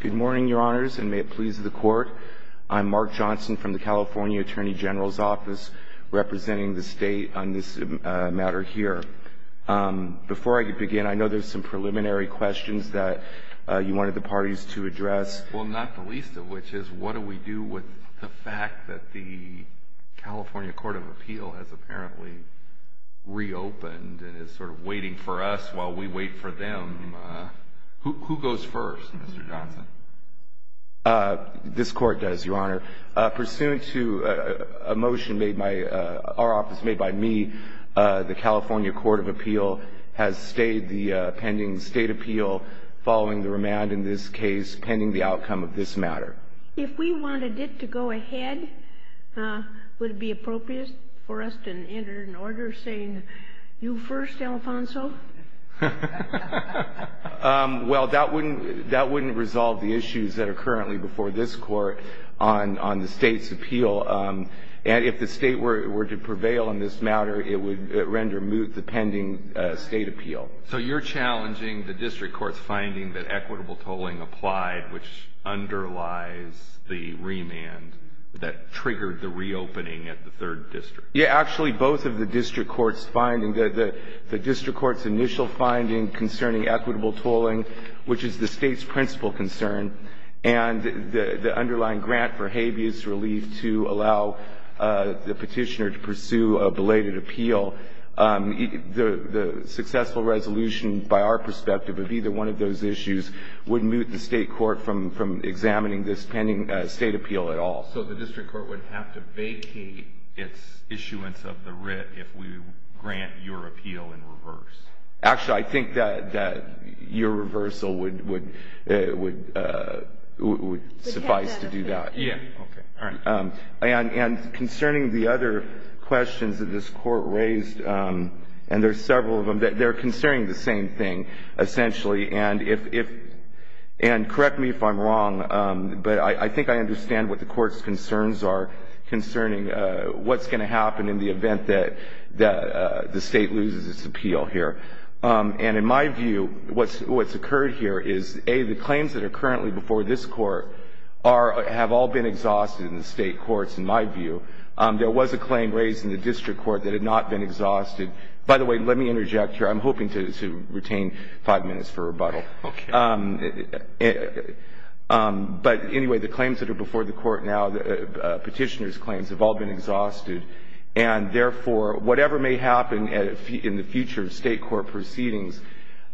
Good morning, your honors, and may it please the court. I'm Mark Johnson from the California Attorney General's Office, representing the state on this matter here. Before I begin, I know there's some preliminary questions that you wanted the parties to address. Well, not the least of which is what do we do with the fact that the California Court of Appeal has apparently reopened and is sort of waiting for us while we wait for them? Who goes first, Mr. Johnson? This court does, your honor. Pursuant to a motion made by our office, made by me, the California Court of Appeal has stayed the pending state appeal following the remand in this case pending the outcome of this matter. If we wanted it to go ahead, would it be appropriate for us to enter an order saying you first, Alfonso? Well, that wouldn't resolve the issues that are currently before this court on the state's appeal. And if the state were to prevail in this matter, it would render moot the pending state appeal. So you're challenging the district court's finding that equitable tolling applied, which underlies the remand that triggered the reopening at the third district? Yeah, actually, both of the district court's finding, the district court's initial finding concerning equitable tolling, which is the state's principal concern, and the underlying grant for habeas relief to allow the petitioner to pursue a belated appeal. The successful resolution by our perspective of either one of those issues would moot the state court from examining this pending state appeal at all. So the district court would have to vacate its issuance of the writ if we grant your appeal in reverse? Actually, I think that your reversal would suffice to do that. Yeah, okay. All right. And concerning the other questions that this court raised, and there are several of them, they're concerning the same thing, essentially. And correct me if I'm wrong, but I think I understand what the court's concerns are concerning what's going to happen in the event that the state loses its appeal here. And in my view, what's occurred here is, A, the claims that are currently before this court have all been exhausted in the state courts, in my view. There was a claim raised in the district court that had not been exhausted. By the way, let me interject here. I'm hoping to retain five minutes for rebuttal. Okay. But anyway, the claims that are before the court now, petitioner's claims, have all been exhausted. And, therefore, whatever may happen in the future of state court proceedings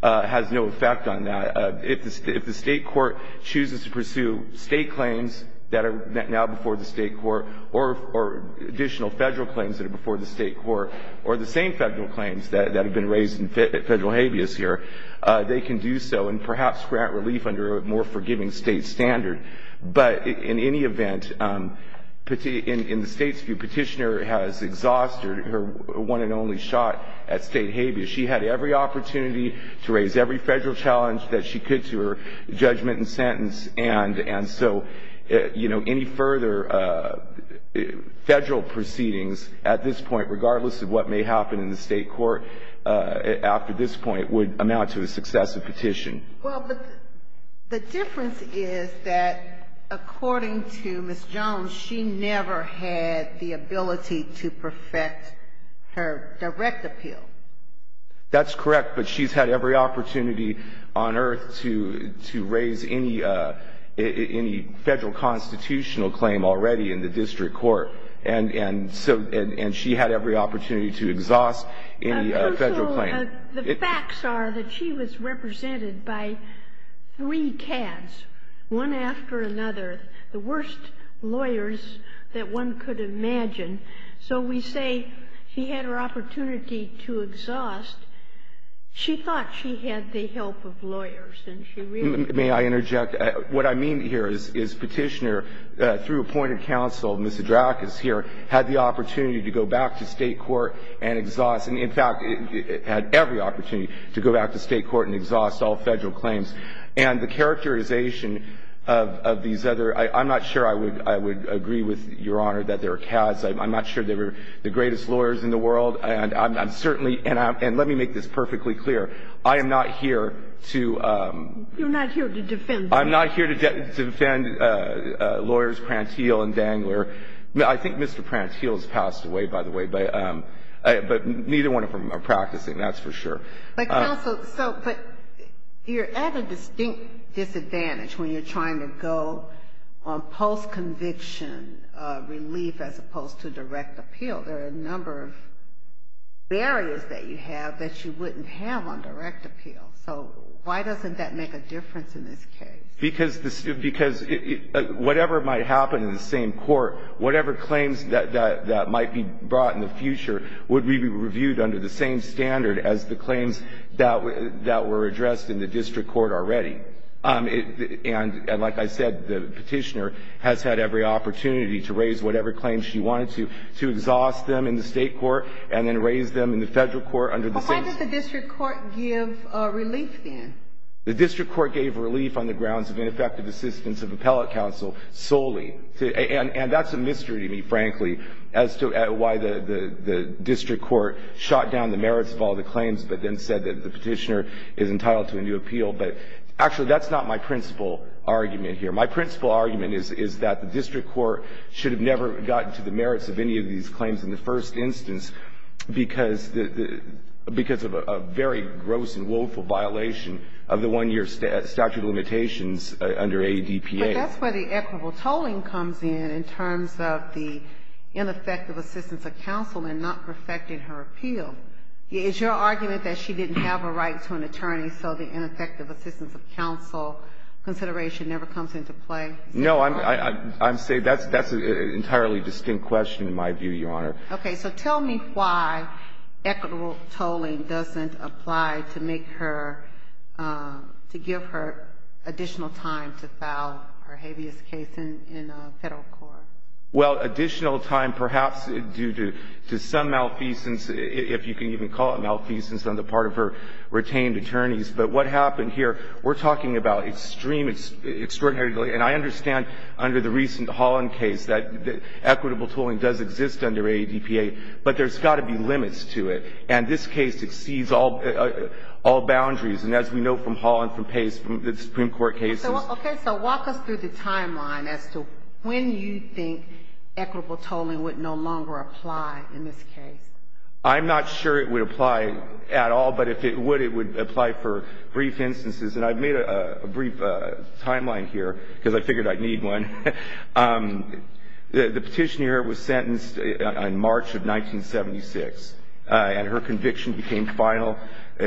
has no effect on that. If the state court chooses to pursue state claims that are now before the state court, or additional federal claims that are before the state court, or the same federal claims that have been raised in federal habeas here, they can do so and perhaps grant relief under a more forgiving state standard. But in any event, in the state's view, petitioner has exhausted her one and only shot at state habeas. She had every opportunity to raise every federal challenge that she could to her judgment and sentence. And so, you know, any further federal proceedings at this point, regardless of what may happen in the state court after this point, would amount to a successive petition. Well, but the difference is that, according to Ms. Jones, she never had the ability to perfect her direct appeal. That's correct. But she's had every opportunity on earth to raise any federal constitutional claim already in the district court. And so, and she had every opportunity to exhaust any federal claim. The facts are that she was represented by three cads, one after another, the worst lawyers that one could imagine. So we say she had her opportunity to exhaust. She thought she had the help of lawyers, and she really didn't. May I interject? What I mean here is, is Petitioner, through appointed counsel, Ms. Hadrakis here, had the opportunity to go back to state court and exhaust. And, in fact, had every opportunity to go back to state court and exhaust all federal claims. And the characterization of these other – I'm not sure I would agree with Your Honor that they were cads. I'm not sure they were the greatest lawyers in the world. And I'm certainly – and let me make this perfectly clear. I am not here to – You're not here to defend them. I'm not here to defend lawyers Prantile and Dangler. I think Mr. Prantile has passed away, by the way. But neither one of them are practicing, that's for sure. But, counsel, so – but you're at a distinct disadvantage when you're trying to go on post-conviction relief as opposed to direct appeal. There are a number of barriers that you have that you wouldn't have on direct appeal. So why doesn't that make a difference in this case? Because – because whatever might happen in the same court, whatever claims that might be brought in the future would be reviewed under the same standard as the claims that were addressed in the district court already. And, like I said, the petitioner has had every opportunity to raise whatever claims she wanted to, to exhaust them in the state court and then raise them in the federal court under the same – But why did the district court give relief then? The district court gave relief on the grounds of ineffective assistance of appellate counsel solely. And that's a mystery to me, frankly, as to why the district court shot down the merits of all the claims but then said that the petitioner is entitled to a new appeal. But, actually, that's not my principal argument here. My principal argument is that the district court should have never gotten to the merits of any of these claims in the first instance because of a very gross and woeful violation of the one-year statute of limitations under ADPA. But that's where the equitable tolling comes in, in terms of the ineffective assistance of counsel and not perfecting her appeal. Is your argument that she didn't have a right to an attorney, so the ineffective assistance of counsel consideration never comes into play? No. I'm saying that's an entirely distinct question, in my view, Your Honor. Okay. So tell me why equitable tolling doesn't apply to make her – to give her additional time to file her habeas case in a federal court. Well, additional time perhaps due to some malfeasance, if you can even call it malfeasance, on the part of her retained attorneys. But what happened here, we're talking about extreme, extraordinary delay. And I understand under the recent Holland case that equitable tolling does exist under ADPA, but there's got to be limits to it. And this case exceeds all boundaries. And as we know from Holland, from Pace, from the Supreme Court cases. Okay. So walk us through the timeline as to when you think equitable tolling would no longer apply in this case. I'm not sure it would apply at all. But if it would, it would apply for brief instances. And I've made a brief timeline here because I figured I'd need one. The petitioner was sentenced in March of 1976, and her conviction became final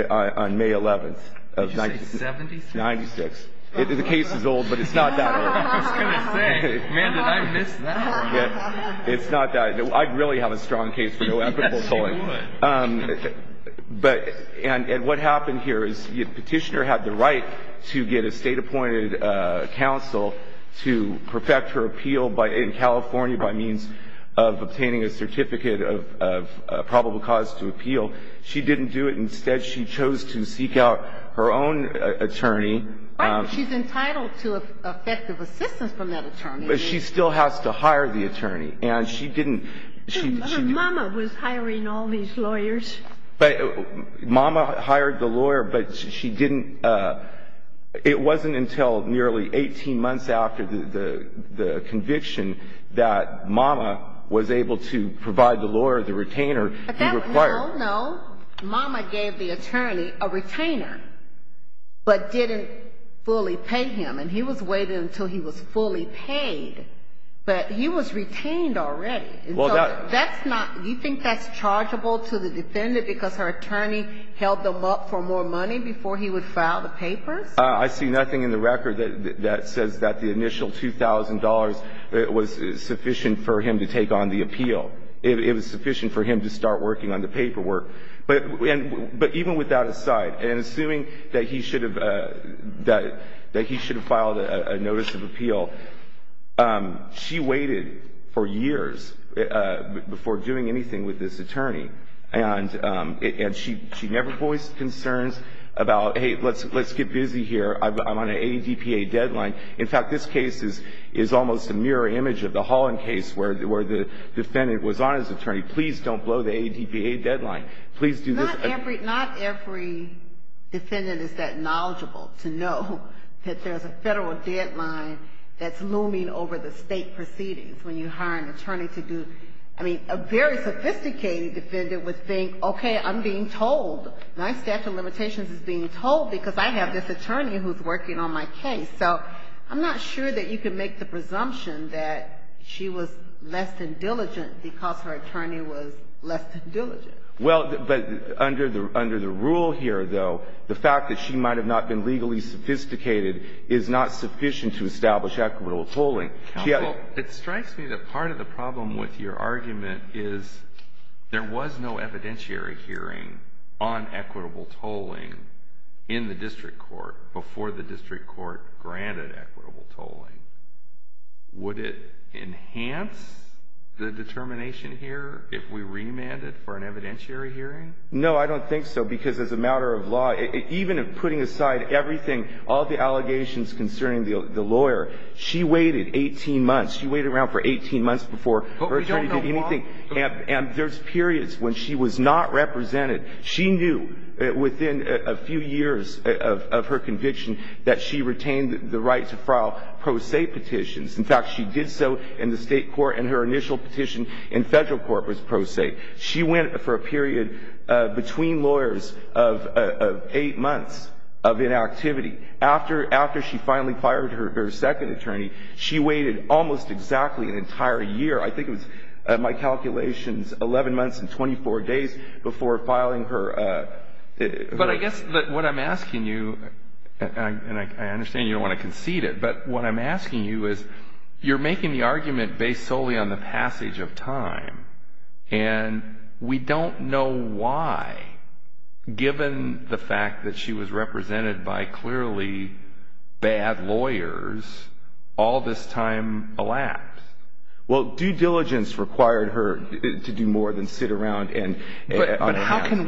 on May 11th of – Did you say 76? 96. The case is old, but it's not that old. I was going to say, man, did I miss that. It's not that – I'd really have a strong case for no equitable tolling. Yes, you would. But – and what happened here is the petitioner had the right to get a State-appointed counsel to perfect her appeal in California by means of obtaining a certificate of probable cause to appeal. She didn't do it. Instead, she chose to seek out her own attorney. Right, but she's entitled to effective assistance from that attorney. But she still has to hire the attorney. And she didn't – Mama was hiring all these lawyers. Mama hired the lawyer, but she didn't – it wasn't until nearly 18 months after the conviction that Mama was able to provide the lawyer, the retainer, the required – No, no. Mama gave the attorney a retainer but didn't fully pay him. And he was waited until he was fully paid. But he was retained already. And so that's not – do you think that's chargeable to the defendant because her attorney held them up for more money before he would file the papers? I see nothing in the record that says that the initial $2,000 was sufficient for him to take on the appeal. It was sufficient for him to start working on the paperwork. But even with that aside, and assuming that he should have filed a notice of appeal, she waited for years before doing anything with this attorney. And she never voiced concerns about, hey, let's get busy here. I'm on an ADPA deadline. In fact, this case is almost a mirror image of the Holland case where the defendant was on as attorney. Please don't blow the ADPA deadline. Please do this. Not every defendant is that knowledgeable to know that there's a federal deadline that's looming over the state proceedings when you hire an attorney to do – I mean, a very sophisticated defendant would think, okay, I'm being told. My statute of limitations is being told because I have this attorney who's working on my case. So I'm not sure that you can make the presumption that she was less than diligent because her attorney was less than diligent. Well, but under the rule here, though, the fact that she might have not been legally sophisticated is not sufficient to establish equitable tolling. Counsel, it strikes me that part of the problem with your argument is there was no evidentiary hearing on equitable tolling in the district court before the district court granted equitable tolling. Would it enhance the determination here if we remanded for an evidentiary hearing? No, I don't think so because as a matter of law, even putting aside everything, all the allegations concerning the lawyer, she waited 18 months. She waited around for 18 months before her attorney did anything. But we don't know why. And there's periods when she was not represented. She knew within a few years of her conviction that she retained the right to file pro se petitions. In fact, she did so in the State court, and her initial petition in Federal court was pro se. She went for a period between lawyers of eight months of inactivity. After she finally fired her second attorney, she waited almost exactly an entire year. I think it was, in my calculations, 11 months and 24 days before filing her. But I guess what I'm asking you, and I understand you don't want to concede it, but what I'm asking you is you're making the argument based solely on the passage of time. And we don't know why, given the fact that she was represented by clearly bad lawyers, all this time elapsed. Well, due diligence required her to do more than sit around. But how can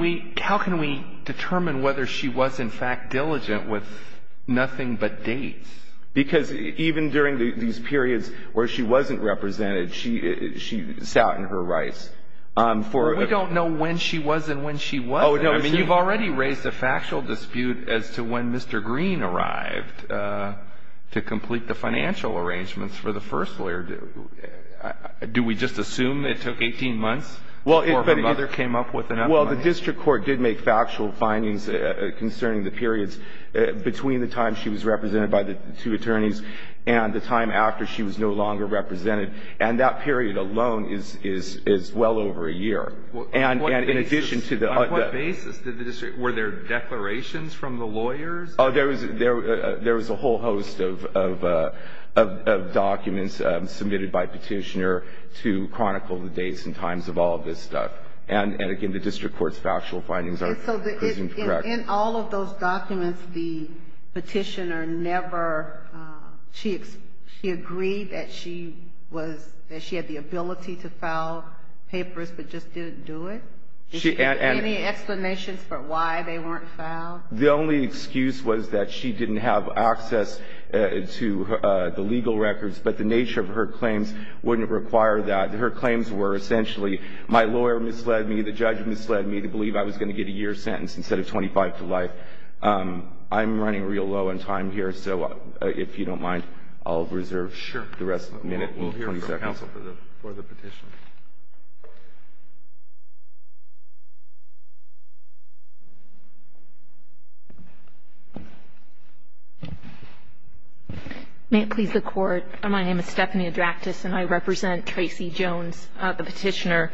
we determine whether she was in fact diligent with nothing but dates? Because even during these periods where she wasn't represented, she sat in her rights. We don't know when she was and when she wasn't. I mean, you've already raised a factual dispute as to when Mr. Green arrived to complete the financial arrangements for the first lawyer. Do we just assume it took 18 months before her mother came up with an evidence? Well, the district court did make factual findings concerning the periods between the time she was represented by the two attorneys and the time after she was no longer represented. And that period alone is well over a year. And in addition to the other ---- On what basis did the district ---- were there declarations from the lawyers? There was a whole host of documents submitted by Petitioner to chronicle the dates and times of all of this stuff. And, again, the district court's factual findings are correct. In all of those documents, the Petitioner never ---- she agreed that she was ---- that she had the ability to file papers but just didn't do it? Any explanations for why they weren't filed? The only excuse was that she didn't have access to the legal records, but the nature of her claims wouldn't require that. Her claims were essentially my lawyer misled me, the judge misled me to believe I was going to get a year's sentence instead of 25 to life. I'm running real low on time here, so if you don't mind, I'll reserve the rest of the minute. Sure. We'll hear from counsel for the Petitioner. May it please the Court. My name is Stephanie Adractis, and I represent Tracy Jones, the Petitioner.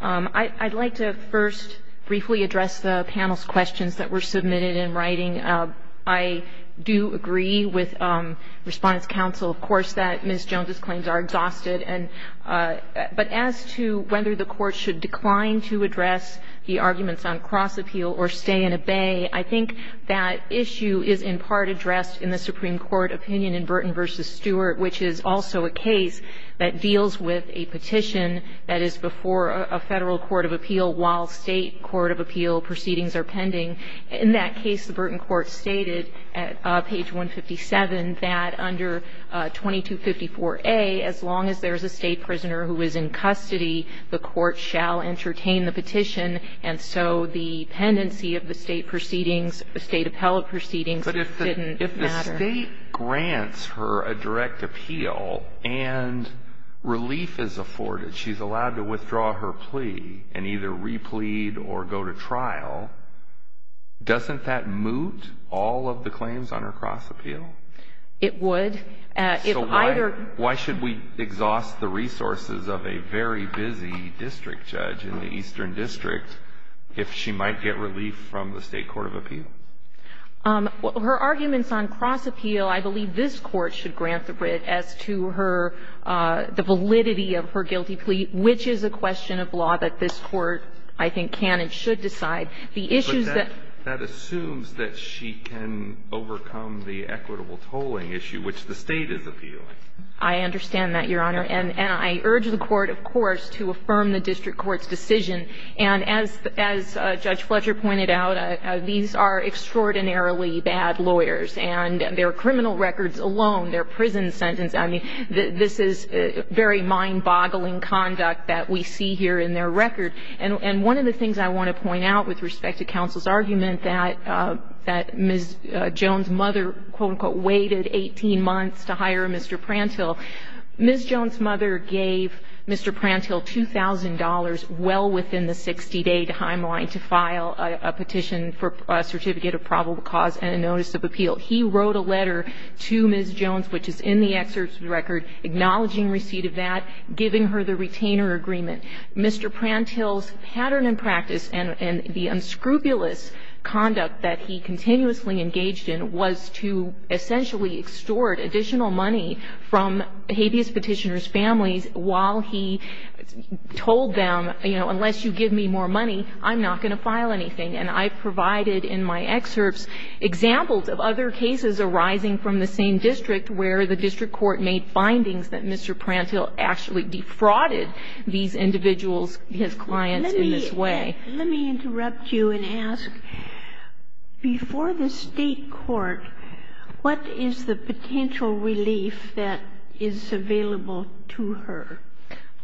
I'd like to first briefly address the panel's questions that were submitted in writing. I do agree with Respondent's counsel, of course, that Ms. Jones's claims are exhausted. But as to whether the Court should decline to address the arguments on cross-appeal or stay and obey, I think that issue is in part addressed in the Supreme Court opinion in Burton v. Stewart, which is also a case that deals with a petition that is before a Federal court of appeal while State court of appeal proceedings are pending. In that case, the Burton court stated at page 157 that under 2254A, as long as there is a State prisoner who is in custody, the court shall entertain the petition, and so the pendency of the State proceedings, the State appellate proceedings didn't matter. Now, if the State grants her a direct appeal and relief is afforded, she's allowed to withdraw her plea and either replead or go to trial, doesn't that moot all of the claims on her cross-appeal? It would. So why should we exhaust the resources of a very busy district judge in the Eastern District if she might get relief from the State court of appeal? Her arguments on cross-appeal, I believe this Court should grant the writ as to her the validity of her guilty plea, which is a question of law that this Court, I think, can and should decide. The issues that ---- But that assumes that she can overcome the equitable tolling issue, which the State is appealing. I understand that, Your Honor. And I urge the Court, of course, to affirm the district court's decision. And as Judge Fletcher pointed out, these are extraordinarily bad lawyers. And their criminal records alone, their prison sentence, I mean, this is very mind-boggling conduct that we see here in their record. And one of the things I want to point out with respect to counsel's argument that Ms. Jones' mother, quote, unquote, waited 18 months to hire Mr. Prantill, Ms. Jones' mother gave Mr. Prantill $2,000 well within the 60-day timeline to file a petition for a certificate of probable cause and a notice of appeal. He wrote a letter to Ms. Jones, which is in the excerpt of the record, acknowledging receipt of that, giving her the retainer agreement. Mr. Prantill's pattern and practice and the unscrupulous conduct that he continuously engaged in was to essentially extort additional money from habeas petitioner's families while he told them, you know, unless you give me more money, I'm not going to file anything. And I provided in my excerpts examples of other cases arising from the same district where the district court made findings that Mr. Prantill actually defrauded these individuals, his clients, in this way. Let me interrupt you and ask, before the State court, what is the potential relief that is available to her?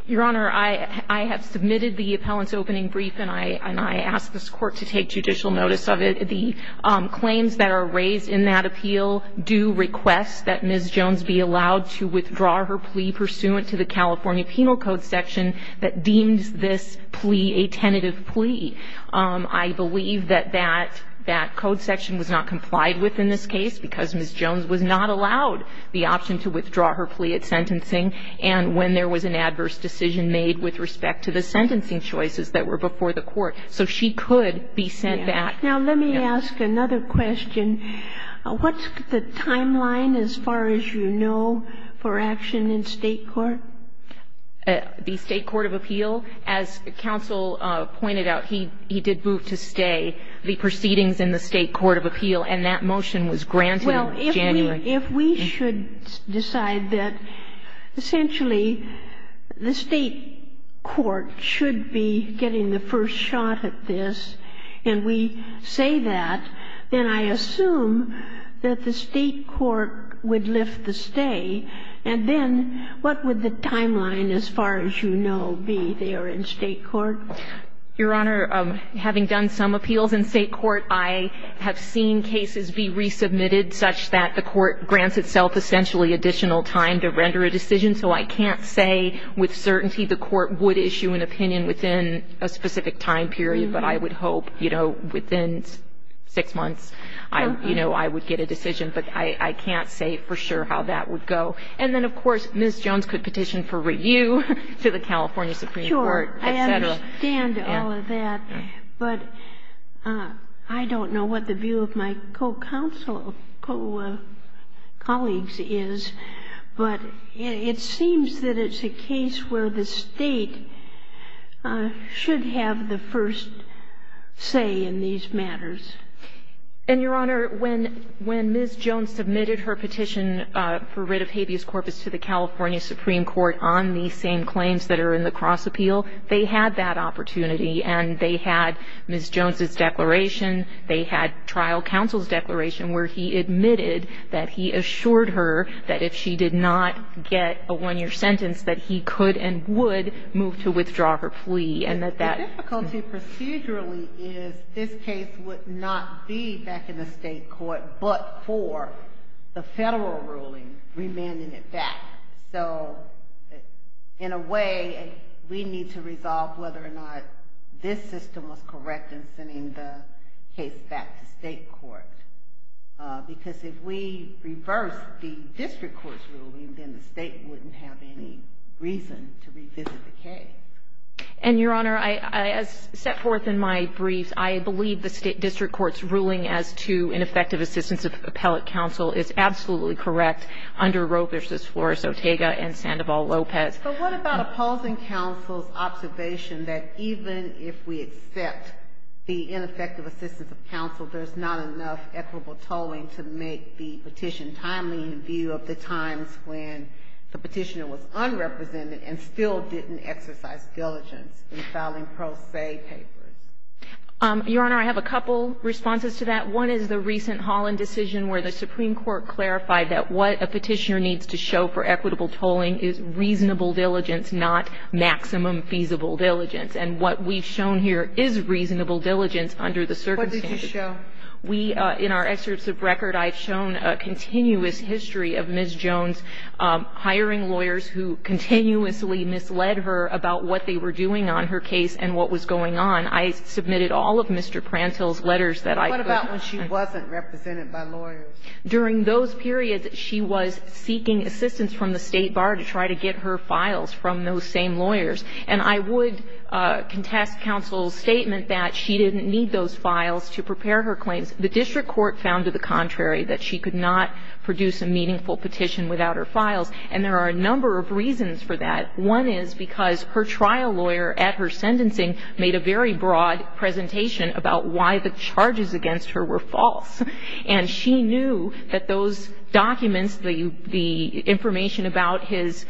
Your Honor, I have submitted the appellant's opening brief, and I ask this Court to take judicial notice of it. The claims that are raised in that appeal do request that Ms. Jones be allowed to withdraw her plea pursuant to the California Penal Code section that deems this to be a tentative plea. I believe that that code section was not complied with in this case because Ms. Jones was not allowed the option to withdraw her plea at sentencing, and when there was an adverse decision made with respect to the sentencing choices that were before the court. So she could be sent back. Now, let me ask another question. What's the timeline as far as you know for action in State court? The State court of appeal, as counsel pointed out, he did move to stay the proceedings in the State court of appeal, and that motion was granted in January. Well, if we should decide that essentially the State court should be getting the first shot at this, and we say that, then I assume that the State court would lift the stay. And then what would the timeline as far as you know be there in State court? Your Honor, having done some appeals in State court, I have seen cases be resubmitted such that the court grants itself essentially additional time to render a decision, so I can't say with certainty the court would issue an opinion within a specific time period, but I would hope, you know, within six months, you know, I would get a decision, but I can't say for sure how that would go. And then, of course, Ms. Jones could petition for review to the California Supreme Court, et cetera. Sure. I understand all of that, but I don't know what the view of my co-counsel, co-colleagues is, but it seems that it's a case where the State should have the first say in these matters. And, Your Honor, when Ms. Jones submitted her petition for writ of habeas corpus to the California Supreme Court on these same claims that are in the cross-appeal, they had that opportunity, and they had Ms. Jones's declaration, they had trial counsel's declaration where he admitted that he assured her that if she did not get a one-year sentence, that he could and would move to withdraw her plea, and that that. The difficulty procedurally is this case would not be back in the State court but for the federal ruling remanding it back. So, in a way, we need to resolve whether or not this system was correct in sending the case back to State court, because if we reverse the district court's ruling, then the State wouldn't have any reason to revisit the case. And, Your Honor, as set forth in my briefs, I believe the district court's ruling as to ineffective assistance of appellate counsel is absolutely correct under Roe v. Flores, Ortega, and Sandoval-Lopez. But what about opposing counsel's observation that even if we accept the ineffective assistance of counsel, there's not enough equitable tolling to make the petition timely in view of the times when the petitioner was unrepresented and still didn't exercise diligence in filing pro se papers? Your Honor, I have a couple responses to that. One is the recent Holland decision where the Supreme Court clarified that what a petitioner needs to show for equitable tolling is reasonable diligence, not maximum feasible diligence. And what we've shown here is reasonable diligence under the circumstances. What did you show? We, in our excerpts of record, I've shown a continuous history of Ms. Jones hiring lawyers who continuously misled her about what they were doing on her case and what was going on. I submitted all of Mr. Prantill's letters that I could. What about when she wasn't represented by lawyers? During those periods, she was seeking assistance from the State bar to try to get her files from those same lawyers. And I would contest counsel's statement that she didn't need those files to prepare her claims. The district court found to the contrary, that she could not produce a meaningful petition without her files. And there are a number of reasons for that. One is because her trial lawyer at her sentencing made a very broad presentation about why the charges against her were false. And she knew that those documents, the information about his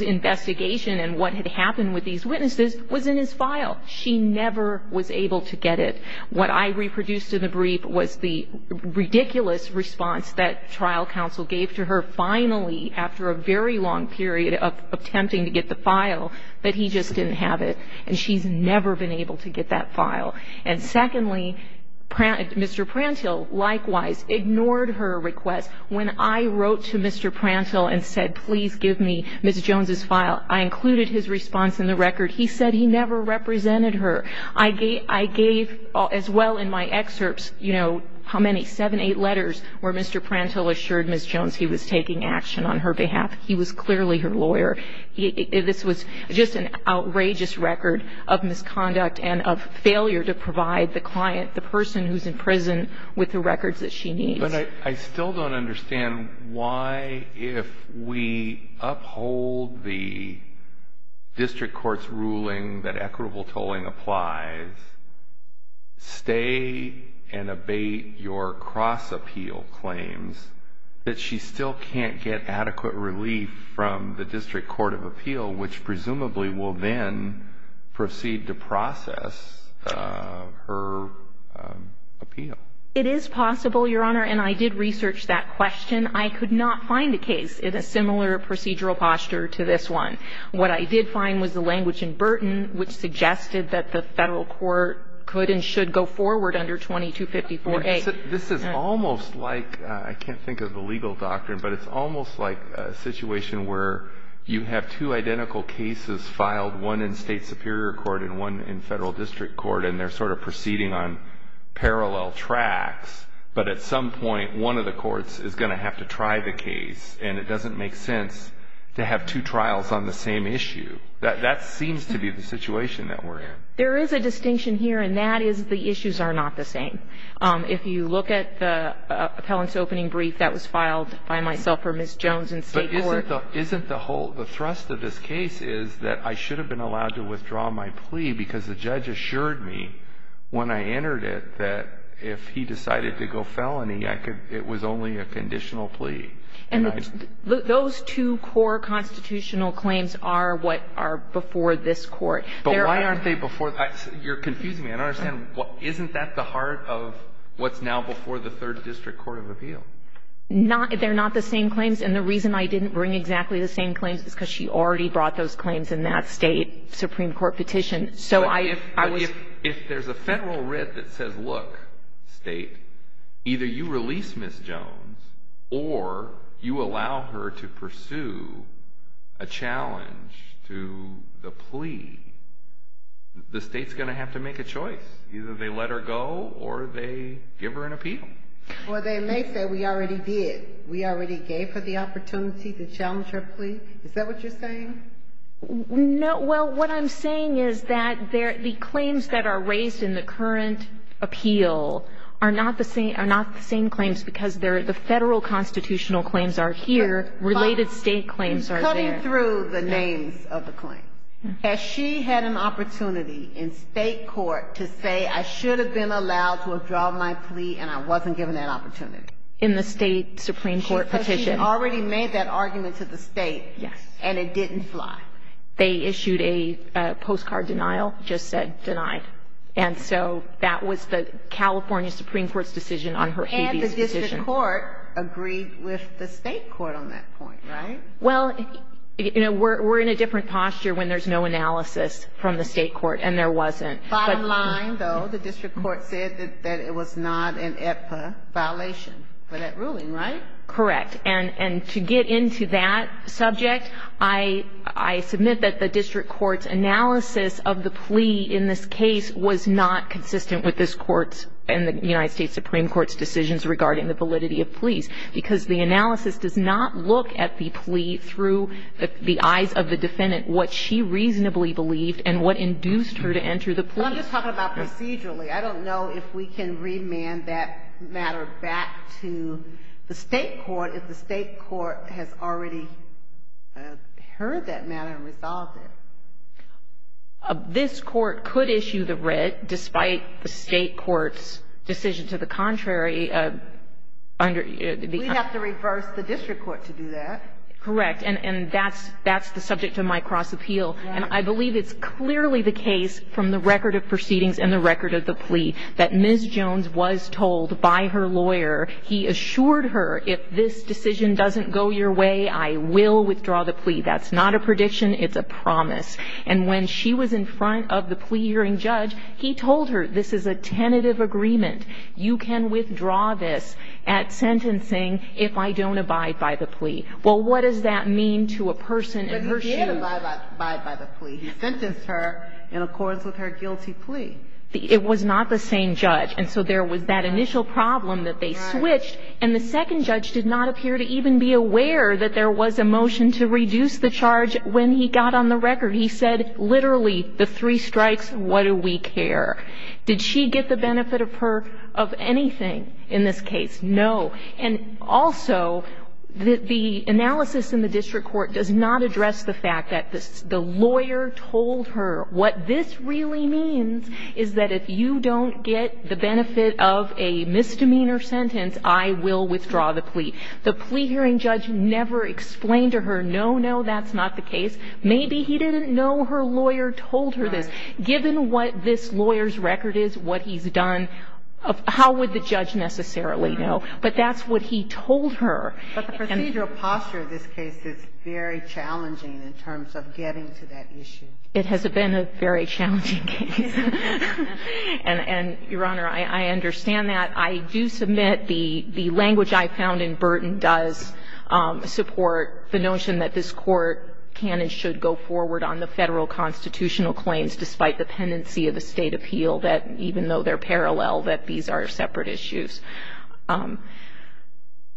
investigation and what had happened with these witnesses was in his file. She never was able to get it. What I reproduced in the brief was the ridiculous response that trial counsel gave to her finally, after a very long period of attempting to get the file, that he just didn't have it. And she's never been able to get that file. And secondly, Mr. Prantill likewise ignored her request. When I wrote to Mr. Prantill and said, please give me Ms. Jones's file, I included his response in the record. He said he never represented her. I gave as well in my excerpts, you know, how many? Seven, eight letters where Mr. Prantill assured Ms. Jones he was taking action on her behalf. He was clearly her lawyer. This was just an outrageous record of misconduct and of failure to provide the client, the person who's in prison, with the records that she needs. But I still don't understand why if we uphold the district court's ruling that if Ms. Jones complies, stay and abate your cross-appeal claims, that she still can't get adequate relief from the district court of appeal, which presumably will then proceed to process her appeal. It is possible, Your Honor, and I did research that question. I could not find a case in a similar procedural posture to this one. What I did find was the language in Burton which suggested that the federal court could and should go forward under 2254A. This is almost like, I can't think of the legal doctrine, but it's almost like a situation where you have two identical cases filed, one in state superior court and one in federal district court, and they're sort of proceeding on parallel tracks. But at some point, one of the courts is going to have to try the case, and it doesn't make sense to have two trials on the same issue. That seems to be the situation that we're in. There is a distinction here, and that is the issues are not the same. If you look at the appellant's opening brief that was filed by myself or Ms. Jones in state court. But isn't the whole thrust of this case is that I should have been allowed to withdraw my plea because the judge assured me when I entered it that if he decided to go felony, it was only a conditional plea. And those two core constitutional claims are what are before this Court. But why aren't they before? You're confusing me. I don't understand. Isn't that the heart of what's now before the third district court of appeal? They're not the same claims. And the reason I didn't bring exactly the same claims is because she already brought those claims in that state supreme court petition. But if there's a federal writ that says, look, state, either you release Ms. Jones or you allow her to pursue a challenge to the plea, the state's going to have to make a choice. Either they let her go or they give her an appeal. Or they may say we already did. We already gave her the opportunity to challenge her plea. Is that what you're saying? Well, what I'm saying is that the claims that are raised in the current appeal are not the same claims because the federal constitutional claims are here. Related state claims are there. Cutting through the names of the claims. Has she had an opportunity in state court to say, I should have been allowed to withdraw my plea and I wasn't given that opportunity? In the state supreme court petition. She already made that argument to the state. Yes. And it didn't fly. They issued a postcard denial, just said denied. And so that was the California supreme court's decision on her plea. And the district court agreed with the state court on that point, right? Well, you know, we're in a different posture when there's no analysis from the state court and there wasn't. Bottom line, though, the district court said that it was not an AEPA violation for that ruling, right? Correct. And to get into that subject, I submit that the district court's analysis of the plea in this case was not consistent with this court's and the United States supreme court's decisions regarding the validity of pleas because the analysis does not look at the plea through the eyes of the defendant, what she reasonably believed and what induced her to enter the plea. I'm just talking about procedurally. I don't know if we can remand that matter back to the state court if the state court has already heard that matter and resolved it. This court could issue the red despite the state court's decision to the contrary. We'd have to reverse the district court to do that. Correct. And that's the subject of my cross appeal. And I believe it's clearly the case from the record of proceedings and the record of the plea that Ms. Jones was told by her lawyer, he assured her if this decision doesn't go your way, I will withdraw the plea. That's not a prediction. It's a promise. And when she was in front of the plea hearing judge, he told her this is a tentative agreement. You can withdraw this at sentencing if I don't abide by the plea. Well, what does that mean to a person in her shoes? He didn't abide by the plea. He sentenced her in accordance with her guilty plea. It was not the same judge. And so there was that initial problem that they switched, and the second judge did not appear to even be aware that there was a motion to reduce the charge when he got on the record. He said literally the three strikes, what do we care? Did she get the benefit of anything in this case? No. And also, the analysis in the district court does not address the fact that the lawyer told her what this really means is that if you don't get the benefit of a misdemeanor sentence, I will withdraw the plea. The plea hearing judge never explained to her, no, no, that's not the case. Maybe he didn't know her lawyer told her this. Given what this lawyer's record is, what he's done, how would the judge necessarily know? But that's what he told her. But the procedural posture of this case is very challenging in terms of getting to that issue. It has been a very challenging case. And, Your Honor, I understand that. I do submit the language I found in Burton does support the notion that this Court can and should go forward on the Federal constitutional claims despite the pendency of a State appeal, that even though they're parallel, that these are separate issues.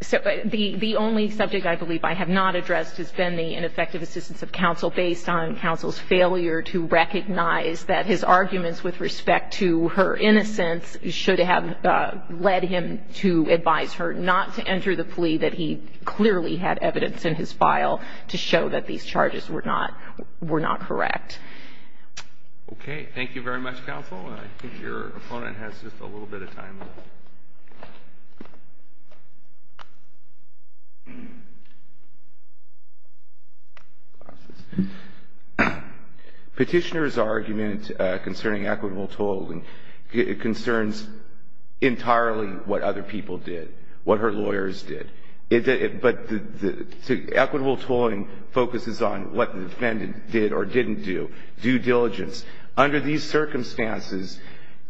The only subject I believe I have not addressed has been the ineffective assistance of counsel based on counsel's failure to recognize that his arguments with respect to her innocence should have led him to advise her not to enter the plea that he clearly had evidence in his file to show that these charges were not correct. Okay. Thank you very much, counsel. I think your opponent has just a little bit of time left. Petitioner's argument concerning equitable tolling concerns entirely what other people did, what her lawyers did. But equitable tolling focuses on what the defendant did or didn't do, due diligence. Under these circumstances,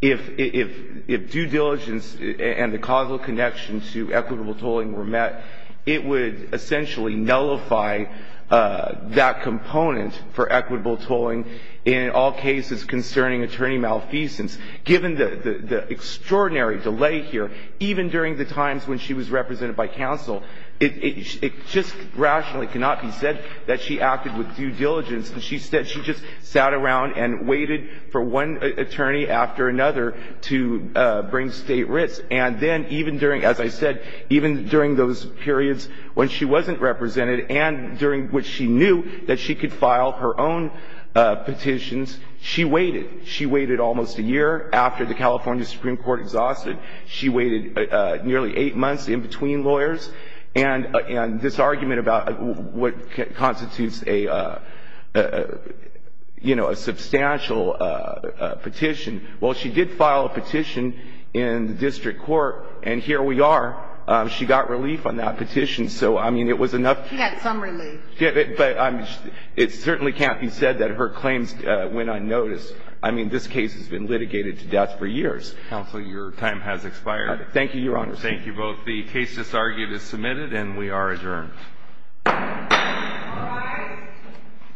if due diligence and the causal connection to equitable tolling were met, it would essentially nullify that component for equitable tolling in all cases concerning attorney malfeasance. Given the extraordinary delay here, even during the times when she was represented by counsel, it just rationally cannot be said that she acted with due diligence. She just sat around and waited for one attorney after another to bring State writs. And then even during, as I said, even during those periods when she wasn't represented and during which she knew that she could file her own petitions, she waited. She waited almost a year. After the California Supreme Court exhausted, she waited nearly eight months in between lawyers. And this argument about what constitutes a, you know, a substantial petition, well, she did file a petition in the district court, and here we are. She got relief on that petition. So, I mean, it was enough. She had some relief. But it certainly can't be said that her claims went unnoticed. I mean, this case has been litigated to death for years. Counsel, your time has expired. Thank you, Your Honor. Thank you both. The case disargued is submitted, and we are adjourned. All rise.